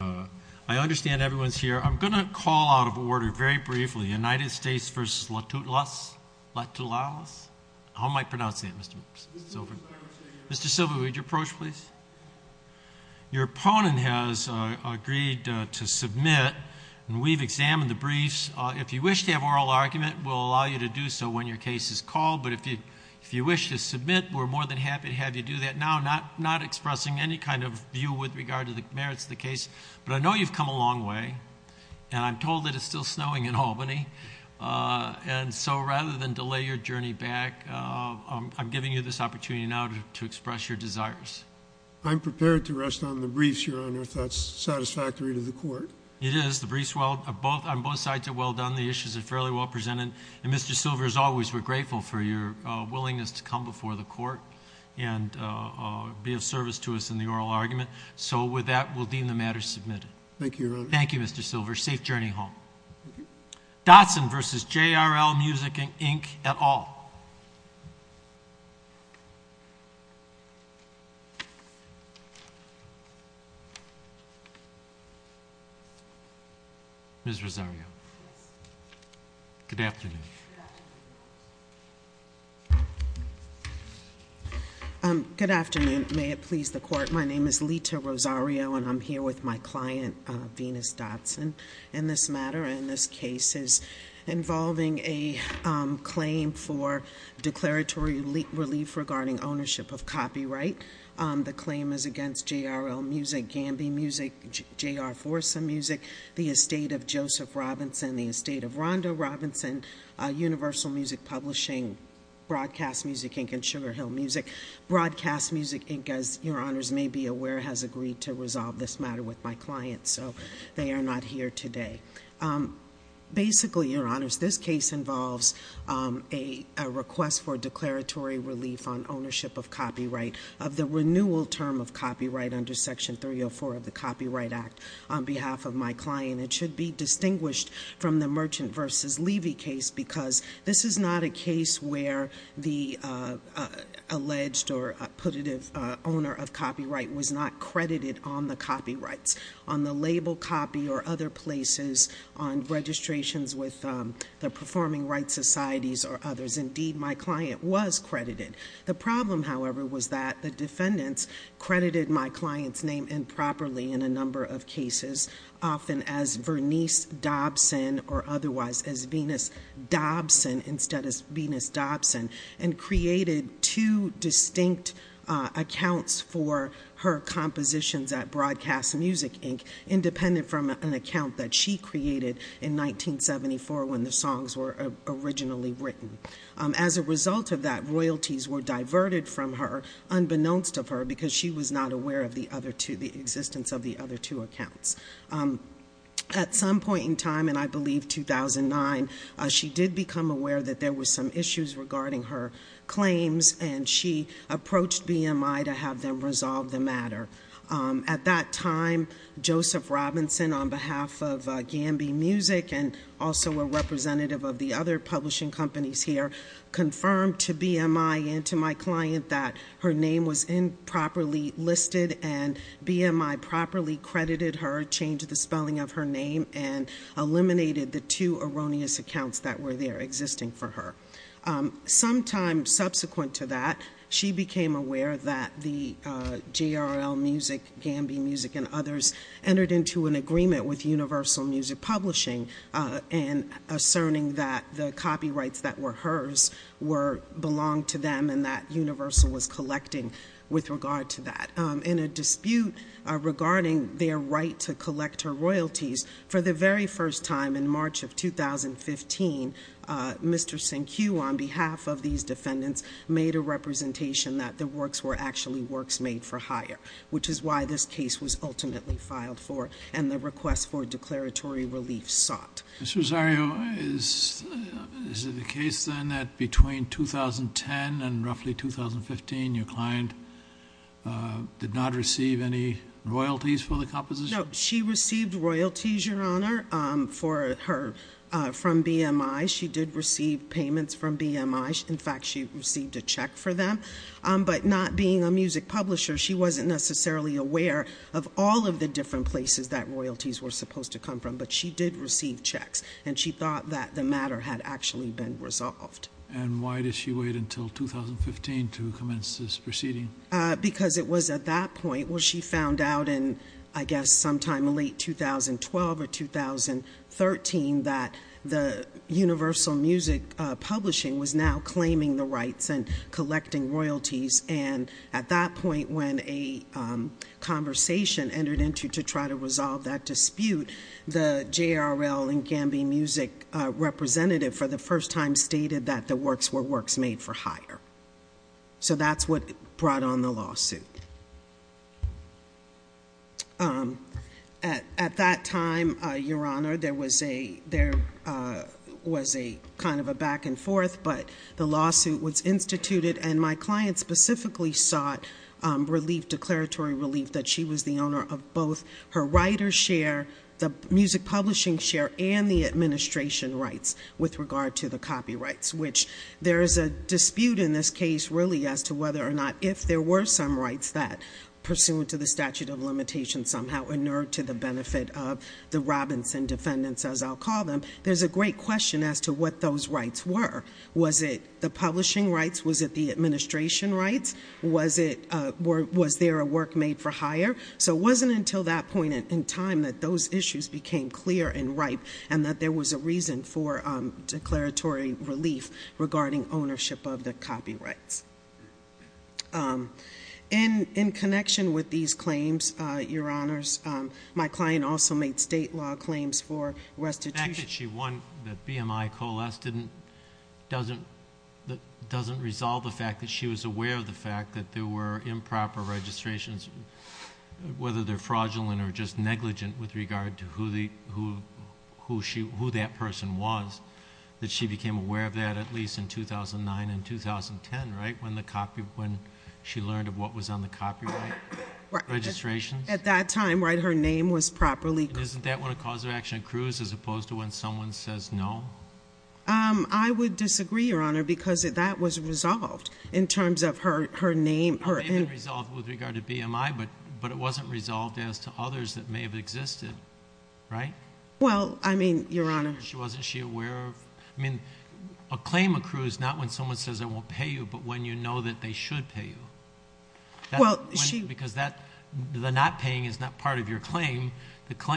I understand everyone's here. I'm going to call out of order very briefly United States v. LaToulalas. How am I pronouncing that, Mr. Silver? Mr. Silver, would you approach, please? Your opponent has agreed to submit, and we've examined the briefs. If you wish to have oral argument, we'll allow you to do so when your case is called, but if you wish to submit, we're more than happy to have you do that now, not expressing any kind of view with regard to the merits of the case, but I know you've come a long way, and I'm told that it's still snowing in Albany, and so rather than delay your journey back, I'm giving you this opportunity now to express your desires. I'm prepared to rest on the briefs, Your Honor, if that's satisfactory to the Court. It is. The briefs on both sides are well done. The issues are fairly well presented, and Mr. Silver, as always, we're grateful for your willingness to come before the Court and be of service to us in the oral argument, so with that, we'll deem the matter submitted. Thank you, Your Honor. Thank you, Mr. Silver. Safe journey home. Dotson v. JRL Music, Inc. et al. Ms. Rosario. Good afternoon. Good afternoon. May it please the Court. My name is Lita Rosario, and I'm here with my client, Venus Dotson. This matter and this case is involving a claim for declaratory relief regarding ownership of copyright. The claim is against JRL Music, Gamby Music, J.R. Forza Music, the estate of Joseph Robinson, the estate of Rhonda Robinson, Universal Music Publishing, Broadcast Music, Inc., and Sugar Hill Music. Broadcast Music, Inc., as Your Honors may be aware, has agreed to resolve this matter with my client, so they are not here today. Basically, Your Honors, this case involves a request for declaratory relief on ownership of copyright, of the renewal term of copyright under Section 304 of the Copyright Act on behalf of my client. It should be distinguished from the Merchant v. Levy case because this is not a case where the alleged or putative owner of copyright was not credited on the copyrights, on the label copy or other places, on registrations with the performing rights societies or others. Indeed, my client was credited. The problem, however, was that the defendants credited my client's name improperly in a number of cases, often as Vernice Dobson or otherwise as Venus Dobson instead of Venus Dobson, and created two distinct accounts for her compositions at Broadcast Music, Inc., independent from an account that she created in 1974 when the songs were originally written. As a result of that, royalties were diverted from her, unbeknownst of her, because she was not aware of the existence of the other two accounts. At some point in time, and I believe 2009, she did become aware that there were some issues regarding her claims, and she approached BMI to have them resolve the matter. At that time, Joseph Robinson, on behalf of Gamby Music and also a representative of the other publishing companies here, confirmed to BMI and to my client that her name was improperly listed and BMI properly credited her, changed the spelling of her name, and eliminated the two erroneous accounts that were there existing for her. Sometime subsequent to that, she became aware that the JRL Music, Gamby Music, and others entered into an agreement with Universal Music Publishing in asserting that the copyrights that were hers belonged to them and that Universal was collecting with regard to that. In a dispute regarding their right to collect her royalties, for the very first time in March of 2015, Mr. Sankiu, on behalf of these defendants, made a representation that the works were actually works made for hire, which is why this case was ultimately filed for and the request for declaratory relief sought. Mr. Rosario, is it the case then that between 2010 and roughly 2015, your client did not receive any royalties for the composition? No, she received royalties, Your Honor, from BMI. She did receive payments from BMI. In fact, she received a check for them, but not being a music publisher, she wasn't necessarily aware of all of the different places that royalties were supposed to come from, but she did receive checks, and she thought that the matter had actually been resolved. And why did she wait until 2015 to commence this proceeding? Because it was at that point where she found out in, I guess, sometime in late 2012 or 2013 that the Universal Music Publishing was now claiming the rights and collecting royalties, and at that point when a conversation entered into to try to resolve that dispute, the JRL and Gamby Music representative for the first time stated that the works were works made for hire. So that's what brought on the lawsuit. At that time, Your Honor, there was a kind of a back and forth, but the lawsuit was instituted, and my client specifically sought relief, declaratory relief that she was the owner of both her writer's share, the music publishing share, and the administration rights with regard to the copyrights, which there is a dispute in this case really as to whether or not if there were some rights that pursuant to the statute of limitations somehow inured to the benefit of the Robinson defendants, as I'll call them, there's a great question as to what those rights were. Was it the publishing rights? Was it the administration rights? Was there a work made for hire? So it wasn't until that point in time that those issues became clear and ripe and that there was a reason for declaratory relief regarding ownership of the copyrights. In connection with these claims, Your Honors, my client also made state law claims for restitution. The fact that she won the BMI coalesced doesn't resolve the fact that she was aware of the fact that there were improper registrations, whether they're fraudulent or just negligent with regard to who that person was, that she became aware of that at least in 2009 and 2010, right, when she learned of what was on the copyright registrations? At that time, right, her name was properly called. Isn't that when a cause of action accrues as opposed to when someone says no? I would disagree, Your Honor, because that was resolved in terms of her name. It may have been resolved with regard to BMI, but it wasn't resolved as to others that may have existed, right? Well, I mean, Your Honor. Wasn't she aware of, I mean, a claim accrues not when someone says I won't pay you, but when you know that they should pay you. Because the not paying is not part of your claim.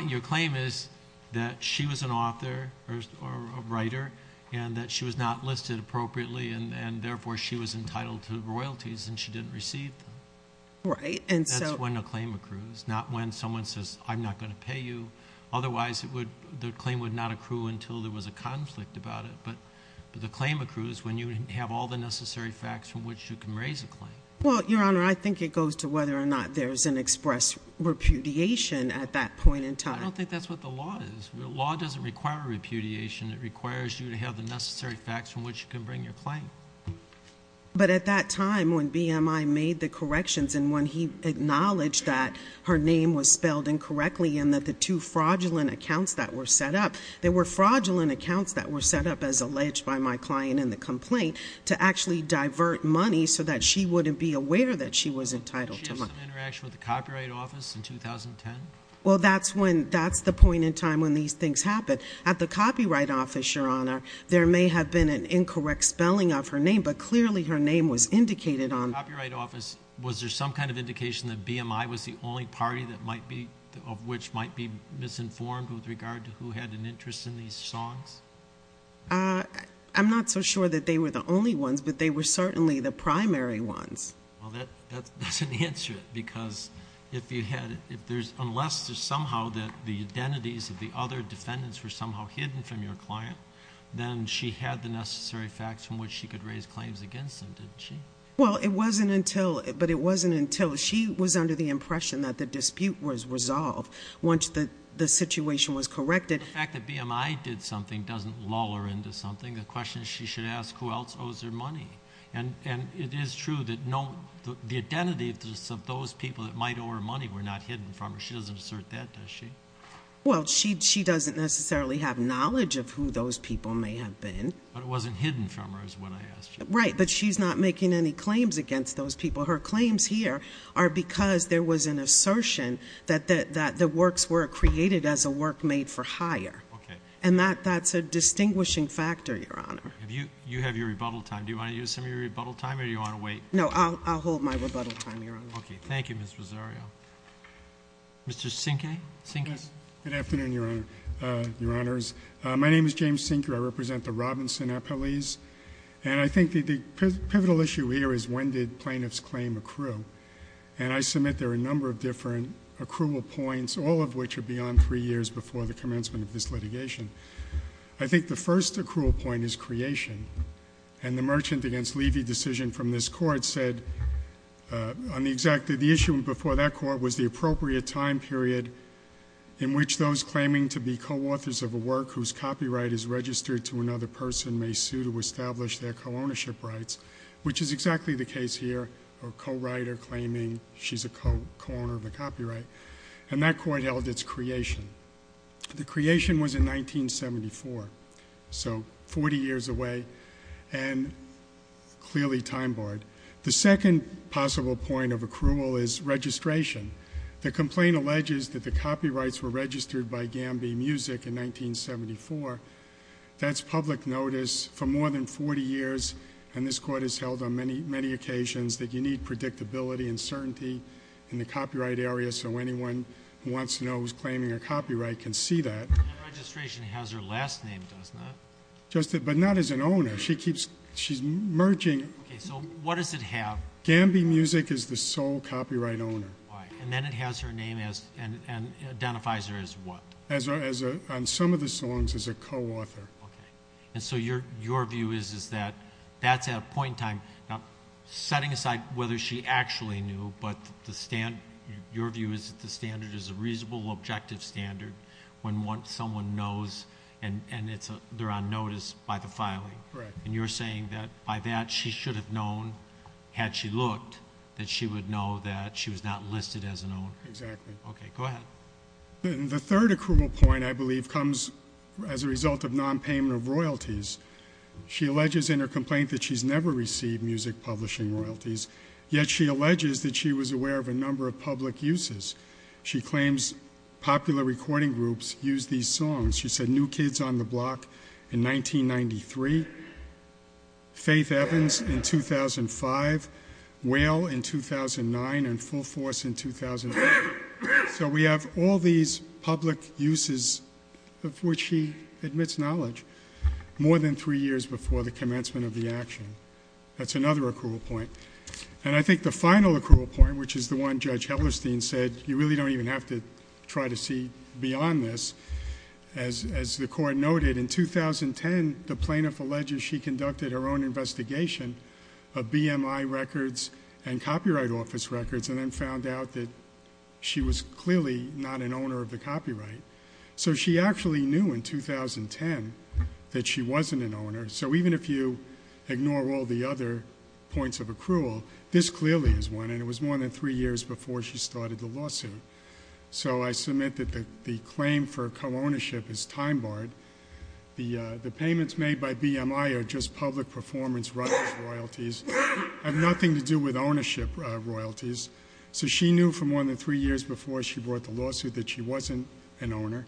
Your claim is that she was an author or a writer and that she was not listed appropriately, and therefore she was entitled to royalties and she didn't receive them. Right. That's when a claim accrues, not when someone says I'm not going to pay you. Otherwise, the claim would not accrue until there was a conflict about it. But the claim accrues when you have all the necessary facts from which you can raise a claim. Well, Your Honor, I think it goes to whether or not there's an express repudiation at that point in time. I don't think that's what the law is. The law doesn't require repudiation. It requires you to have the necessary facts from which you can bring your claim. But at that time when BMI made the corrections and when he acknowledged that her name was spelled incorrectly and that the two fraudulent accounts that were set up, there were fraudulent accounts that were set up, as alleged by my client in the complaint, to actually divert money so that she wouldn't be aware that she was entitled to money. Did she have some interaction with the Copyright Office in 2010? Well, that's the point in time when these things happen. At the Copyright Office, Your Honor, there may have been an incorrect spelling of her name, but clearly her name was indicated on it. At the Copyright Office, was there some kind of indication that BMI was the only party of which might be misinformed with regard to who had an interest in these songs? I'm not so sure that they were the only ones, but they were certainly the primary ones. Well, that doesn't answer it because unless there's somehow the identities of the other defendants were somehow hidden from your client, then she had the necessary facts from which she could raise claims against them, didn't she? Well, it wasn't until she was under the impression that the dispute was resolved once the situation was corrected. The fact that BMI did something doesn't lull her into something. The question is she should ask who else owes her money. And it is true that the identities of those people that might owe her money were not hidden from her. She doesn't assert that, does she? Well, she doesn't necessarily have knowledge of who those people may have been. But it wasn't hidden from her is what I asked you. Right, but she's not making any claims against those people. Her claims here are because there was an assertion that the works were created as a work made for hire. Okay. And that's a distinguishing factor, Your Honor. You have your rebuttal time. Do you want to use some of your rebuttal time or do you want to wait? No, I'll hold my rebuttal time, Your Honor. Okay. Thank you, Ms. Rosario. Mr. Sinque? Good afternoon, Your Honors. My name is James Sinque. I represent the Robinson Appellees. And I think the pivotal issue here is when did plaintiffs claim accrue? And I submit there are a number of different accrual points, all of which are beyond three years before the commencement of this litigation. I think the first accrual point is creation. And the Merchant v. Levy decision from this court said on the exact issue before that court was the appropriate time period in which those claiming to be co-authors of a work whose copyright is registered to another person may sue to establish their co-ownership rights, which is exactly the case here, a co-writer claiming she's a co-owner of a copyright. And that court held its creation. The creation was in 1974, so 40 years away and clearly time-barred. The second possible point of accrual is registration. The complaint alleges that the copyrights were registered by Gamby Music in 1974. That's public notice for more than 40 years, and this court has held on many occasions that you need predictability and certainty in the copyright area so anyone who wants to know who's claiming a copyright can see that. That registration has her last name, does not it? But not as an owner. She's merging. Okay, so what does it have? Gamby Music is the sole copyright owner. And then it has her name and identifies her as what? On some of the songs as a co-author. Okay, and so your view is that that's at a point in time. Now, setting aside whether she actually knew, but your view is that the standard is a reasonable, objective standard when someone knows and they're on notice by the filing. Correct. And you're saying that by that she should have known, had she looked, that she would know that she was not listed as an owner. Exactly. Okay, go ahead. The third accrual point, I believe, comes as a result of nonpayment of royalties. She alleges in her complaint that she's never received music publishing royalties, yet she alleges that she was aware of a number of public uses. She claims popular recording groups use these songs. She said New Kids on the Block in 1993, Faith Evans in 2005, Whale in 2009, and Full Force in 2005. So we have all these public uses of which she admits knowledge more than three years before the commencement of the action. That's another accrual point. And I think the final accrual point, which is the one Judge Hellerstein said, you really don't even have to try to see beyond this. As the Court noted, in 2010, the plaintiff alleges she conducted her own investigation of BMI records and Copyright Office records and then found out that she was clearly not an owner of the copyright. So she actually knew in 2010 that she wasn't an owner. So even if you ignore all the other points of accrual, this clearly is one, and it was more than three years before she started the lawsuit. So I submit that the claim for co-ownership is time-barred. The payments made by BMI are just public performance rights royalties, have nothing to do with ownership royalties. So she knew for more than three years before she brought the lawsuit that she wasn't an owner.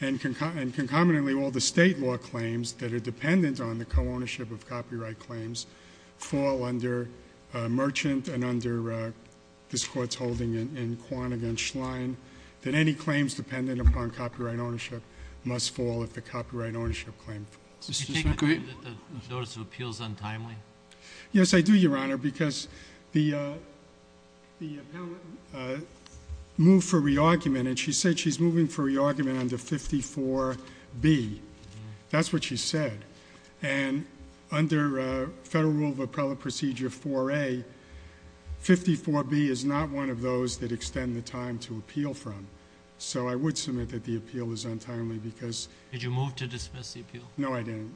And concomitantly, all the state law claims that are dependent on the co-ownership of copyright claims fall under Merchant and under this Court's holding in Quan against Schlein, that any claims dependent upon copyright ownership must fall if the copyright ownership claim falls. Do you take the view that the notice of appeal is untimely? Yes, I do, Your Honor, because the appellant moved for re-argument, and she said she's moving for re-argument under 54B. That's what she said. And under Federal Rule of Appellate Procedure 4A, 54B is not one of those that extend the time to appeal from. So I would submit that the appeal is untimely because— Did you move to dismiss the appeal? No, I didn't.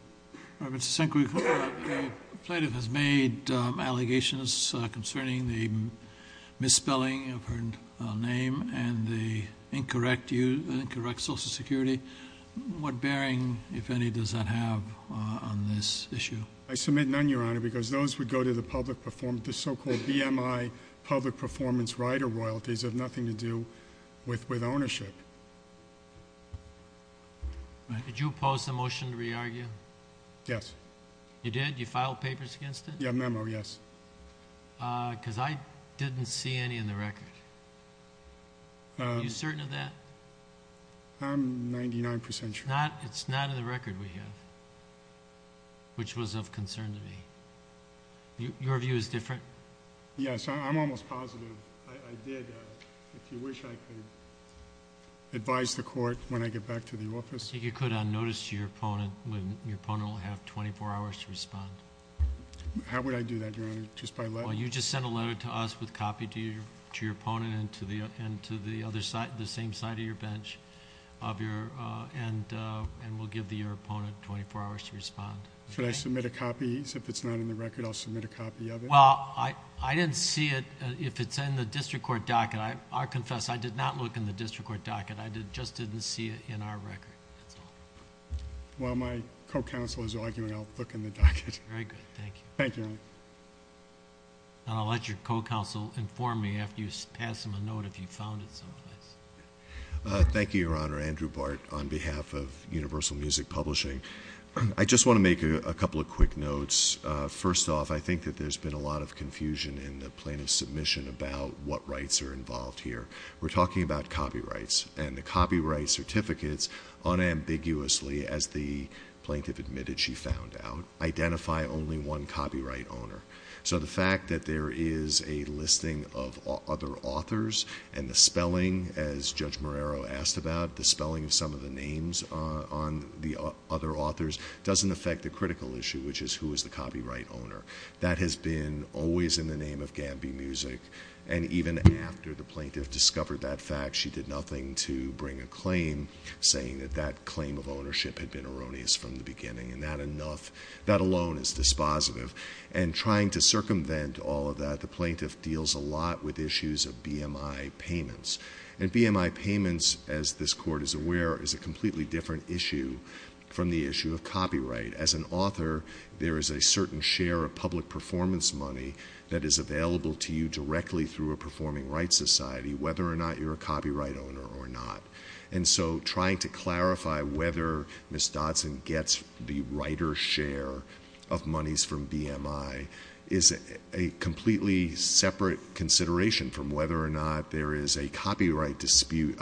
Mr. Sink, the plaintiff has made allegations concerning the misspelling of her name and the incorrect social security. What bearing, if any, does that have on this issue? I submit none, Your Honor, because those would go to the so-called BMI public performance rider royalties that have nothing to do with ownership. Did you oppose the motion to re-argue? Yes. You did? You filed papers against it? Yeah, memo, yes. Because I didn't see any in the record. Are you certain of that? I'm 99% sure. It's not in the record we have, which was of concern to me. Your view is different? Yes, I'm almost positive. I did. If you wish, I could advise the court when I get back to the office. I think you could on notice to your opponent. Your opponent will have 24 hours to respond. How would I do that, Your Honor, just by letter? Well, you just send a letter to us with a copy to your opponent and to the other side, the same side of your bench, and we'll give your opponent 24 hours to respond. Should I submit a copy? If it's not in the record, I'll submit a copy of it? Well, I didn't see it. If it's in the district court docket, I confess, I did not look in the district court docket. I just didn't see it in our record, that's all. Well, my co-counsel is arguing I'll look in the docket. Very good. Thank you. Thank you, Your Honor. I'll let your co-counsel inform me after you pass him a note if you found it someplace. Thank you, Your Honor. Andrew Bartt on behalf of Universal Music Publishing. I just want to make a couple of quick notes. First off, I think that there's been a lot of confusion in the plaintiff's submission about what rights are involved here. We're talking about copyrights, and the copyright certificates unambiguously, as the plaintiff admitted she found out, identify only one copyright owner. So the fact that there is a listing of other authors and the spelling, as Judge Marrero asked about, the spelling of some of the names on the other authors doesn't affect the critical issue, which is who is the copyright owner. That has been always in the name of Gamby Music. And even after the plaintiff discovered that fact, she did nothing to bring a claim saying that that claim of ownership had been erroneous from the beginning, and that alone is dispositive. And trying to circumvent all of that, the plaintiff deals a lot with issues of BMI payments. And BMI payments, as this Court is aware, is a completely different issue from the issue of copyright. As an author, there is a certain share of public performance money that is available to you directly through a performing rights society, whether or not you're a copyright owner or not. And so trying to clarify whether Ms. Dodson gets the righter share of monies from BMI is a completely separate consideration from whether or not there is a dispute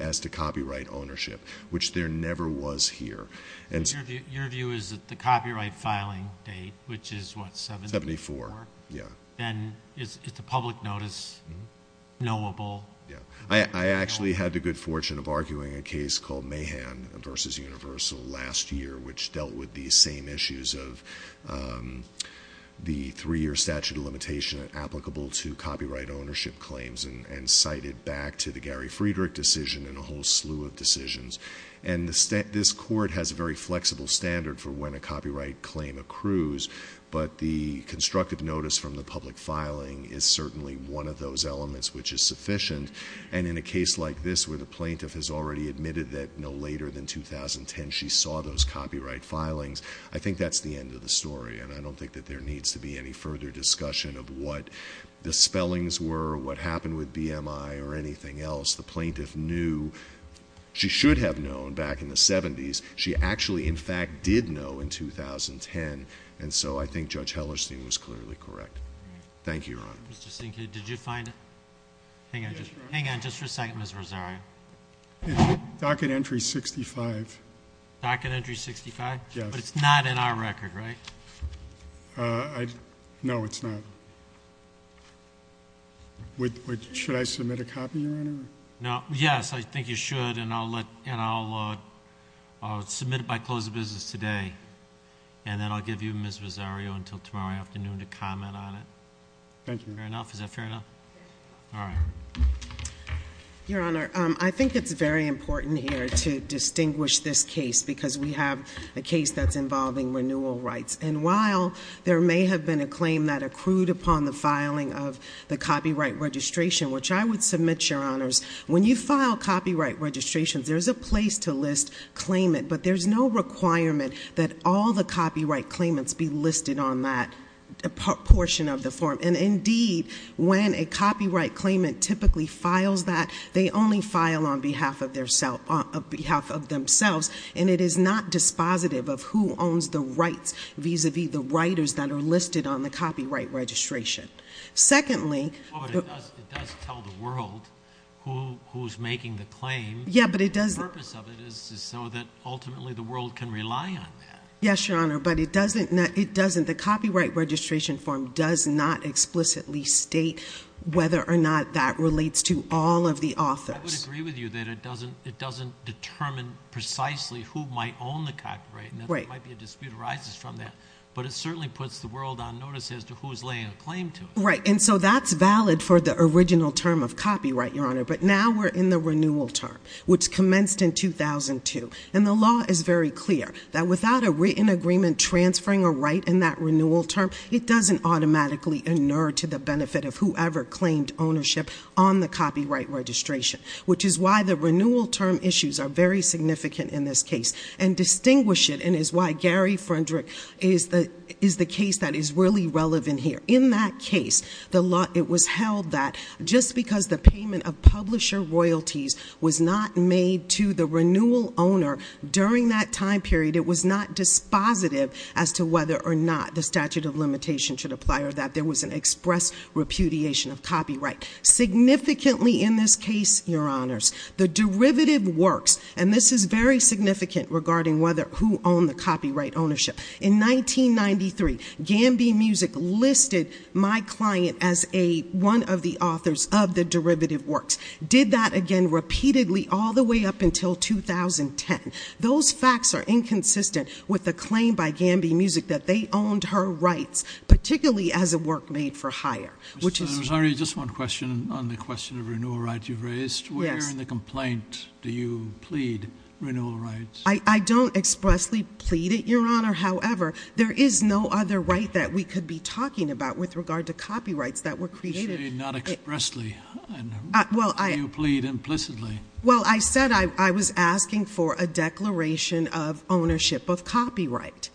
as to copyright ownership, which there never was here. Your view is that the copyright filing date, which is what, 74? 74, yeah. Then is the public notice knowable? Yeah. I actually had the good fortune of arguing a case called Mahan v. Universal last year, which dealt with these same issues of the three-year statute of limitation applicable to copyright ownership claims and cited back to the Gary Friedrich decision and a whole slew of decisions. And this Court has a very flexible standard for when a copyright claim accrues, but the constructive notice from the public filing is certainly one of those elements which is sufficient. And in a case like this where the plaintiff has already admitted that no later than 2010 she saw those copyright filings, I think that's the end of the story. And I don't think that there needs to be any further discussion of what the spellings were or what happened with BMI or anything else. The plaintiff knew she should have known back in the 70s. She actually, in fact, did know in 2010. And so I think Judge Hellerstein was clearly correct. Thank you, Your Honor. Mr. Sinkia, did you find it? Hang on just for a second, Ms. Rosario. Docket entry 65. Docket entry 65? Yes. But it's not in our record, right? No, it's not. Should I submit a copy, Your Honor? No. Yes, I think you should, and I'll submit it by close of business today, and then I'll give you, Ms. Rosario, until tomorrow afternoon to comment on it. Thank you. Fair enough? Is that fair enough? All right. Your Honor, I think it's very important here to distinguish this case because we have a case that's involving renewal rights. And while there may have been a claim that accrued upon the filing of the copyright registration, which I would submit, Your Honors, when you file copyright registrations, there's a place to list claimant, but there's no requirement that all the copyright claimants be listed on that portion of the form. And, indeed, when a copyright claimant typically files that, they only file on behalf of themselves, and it is not dispositive of who owns the rights, vis-a-vis the writers that are listed on the copyright registration. Secondly, But it does tell the world who's making the claim. Yeah, but it doesn't. The purpose of it is so that ultimately the world can rely on that. Yes, Your Honor, but it doesn't. The copyright registration form does not explicitly state whether or not that relates to all of the authors. I would agree with you that it doesn't determine precisely who might own the copyright, and there might be a dispute arises from that, but it certainly puts the world on notice as to who's laying a claim to it. Right, and so that's valid for the original term of copyright, Your Honor, but now we're in the renewal term, which commenced in 2002, and the law is very clear that without a written agreement transferring a right in that renewal term, it doesn't automatically inure to the benefit of whoever claimed ownership on the copyright registration, which is why the renewal term issues are very significant in this case and distinguish it and is why Gary Freundrich is the case that is really relevant here. In that case, it was held that just because the payment of publisher royalties was not made to the renewal owner during that time period, it was not dispositive as to whether or not the statute of limitation should apply or that there was an express repudiation of copyright. Significantly in this case, Your Honors, the derivative works, and this is very significant regarding whether who owned the copyright ownership. In 1993, Gamby Music listed my client as one of the authors of the derivative works, did that again repeatedly all the way up until 2010. Those facts are inconsistent with the claim by Gamby Music that they owned her rights, particularly as a work made for hire, which is— Mr. Rosario, just one question on the question of renewal rights you've raised. Yes. Where in the complaint do you plead renewal rights? I don't expressly plead it, Your Honor. However, there is no other right that we could be talking about with regard to copyrights that were created. You say not expressly. Well, I— You plead implicitly. Well, I said I was asking for a declaration of ownership of copyright.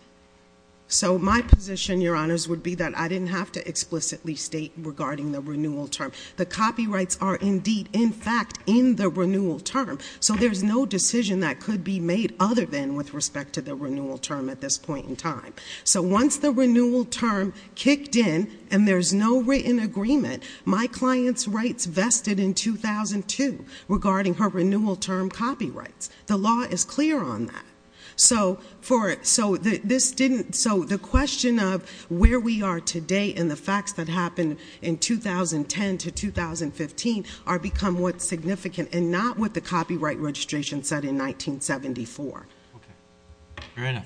So my position, Your Honors, would be that I didn't have to explicitly state regarding the renewal term. The copyrights are indeed, in fact, in the renewal term, so there's no decision that could be made other than with respect to the renewal term at this point in time. So once the renewal term kicked in and there's no written agreement, my client's rights vested in 2002 regarding her renewal term copyrights. The law is clear on that. So for—so this didn't—so the question of where we are today and the facts that happened in 2010 to 2015 are become what's significant and not what the copyright registration said in 1974. Okay. Your Honor.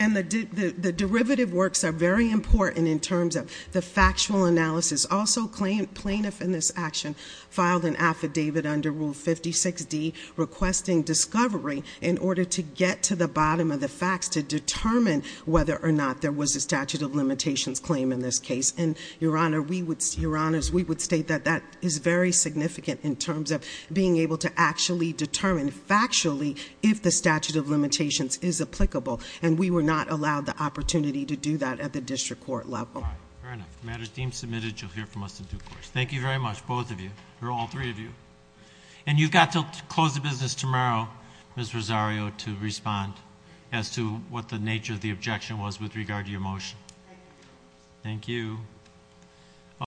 And the derivative works are very important in terms of the factual analysis. Also, plaintiff in this action filed an affidavit under Rule 56D requesting discovery in order to get to the bottom of the facts to determine whether or not there was a statute of limitations claim in this case. And, Your Honor, we would—Your Honors, we would state that that is very significant in terms of being able to actually determine factually if the statute of limitations is applicable, and we were not allowed the opportunity to do that at the district court level. All right. Fair enough. The matter is deemed submitted. You'll hear from us in due course. Thank you very much, both of you, or all three of you. And you've got to close the business tomorrow, Ms. Rosario, to respond as to what the nature of the objection was with regard to your motion. Thank you. Thank you.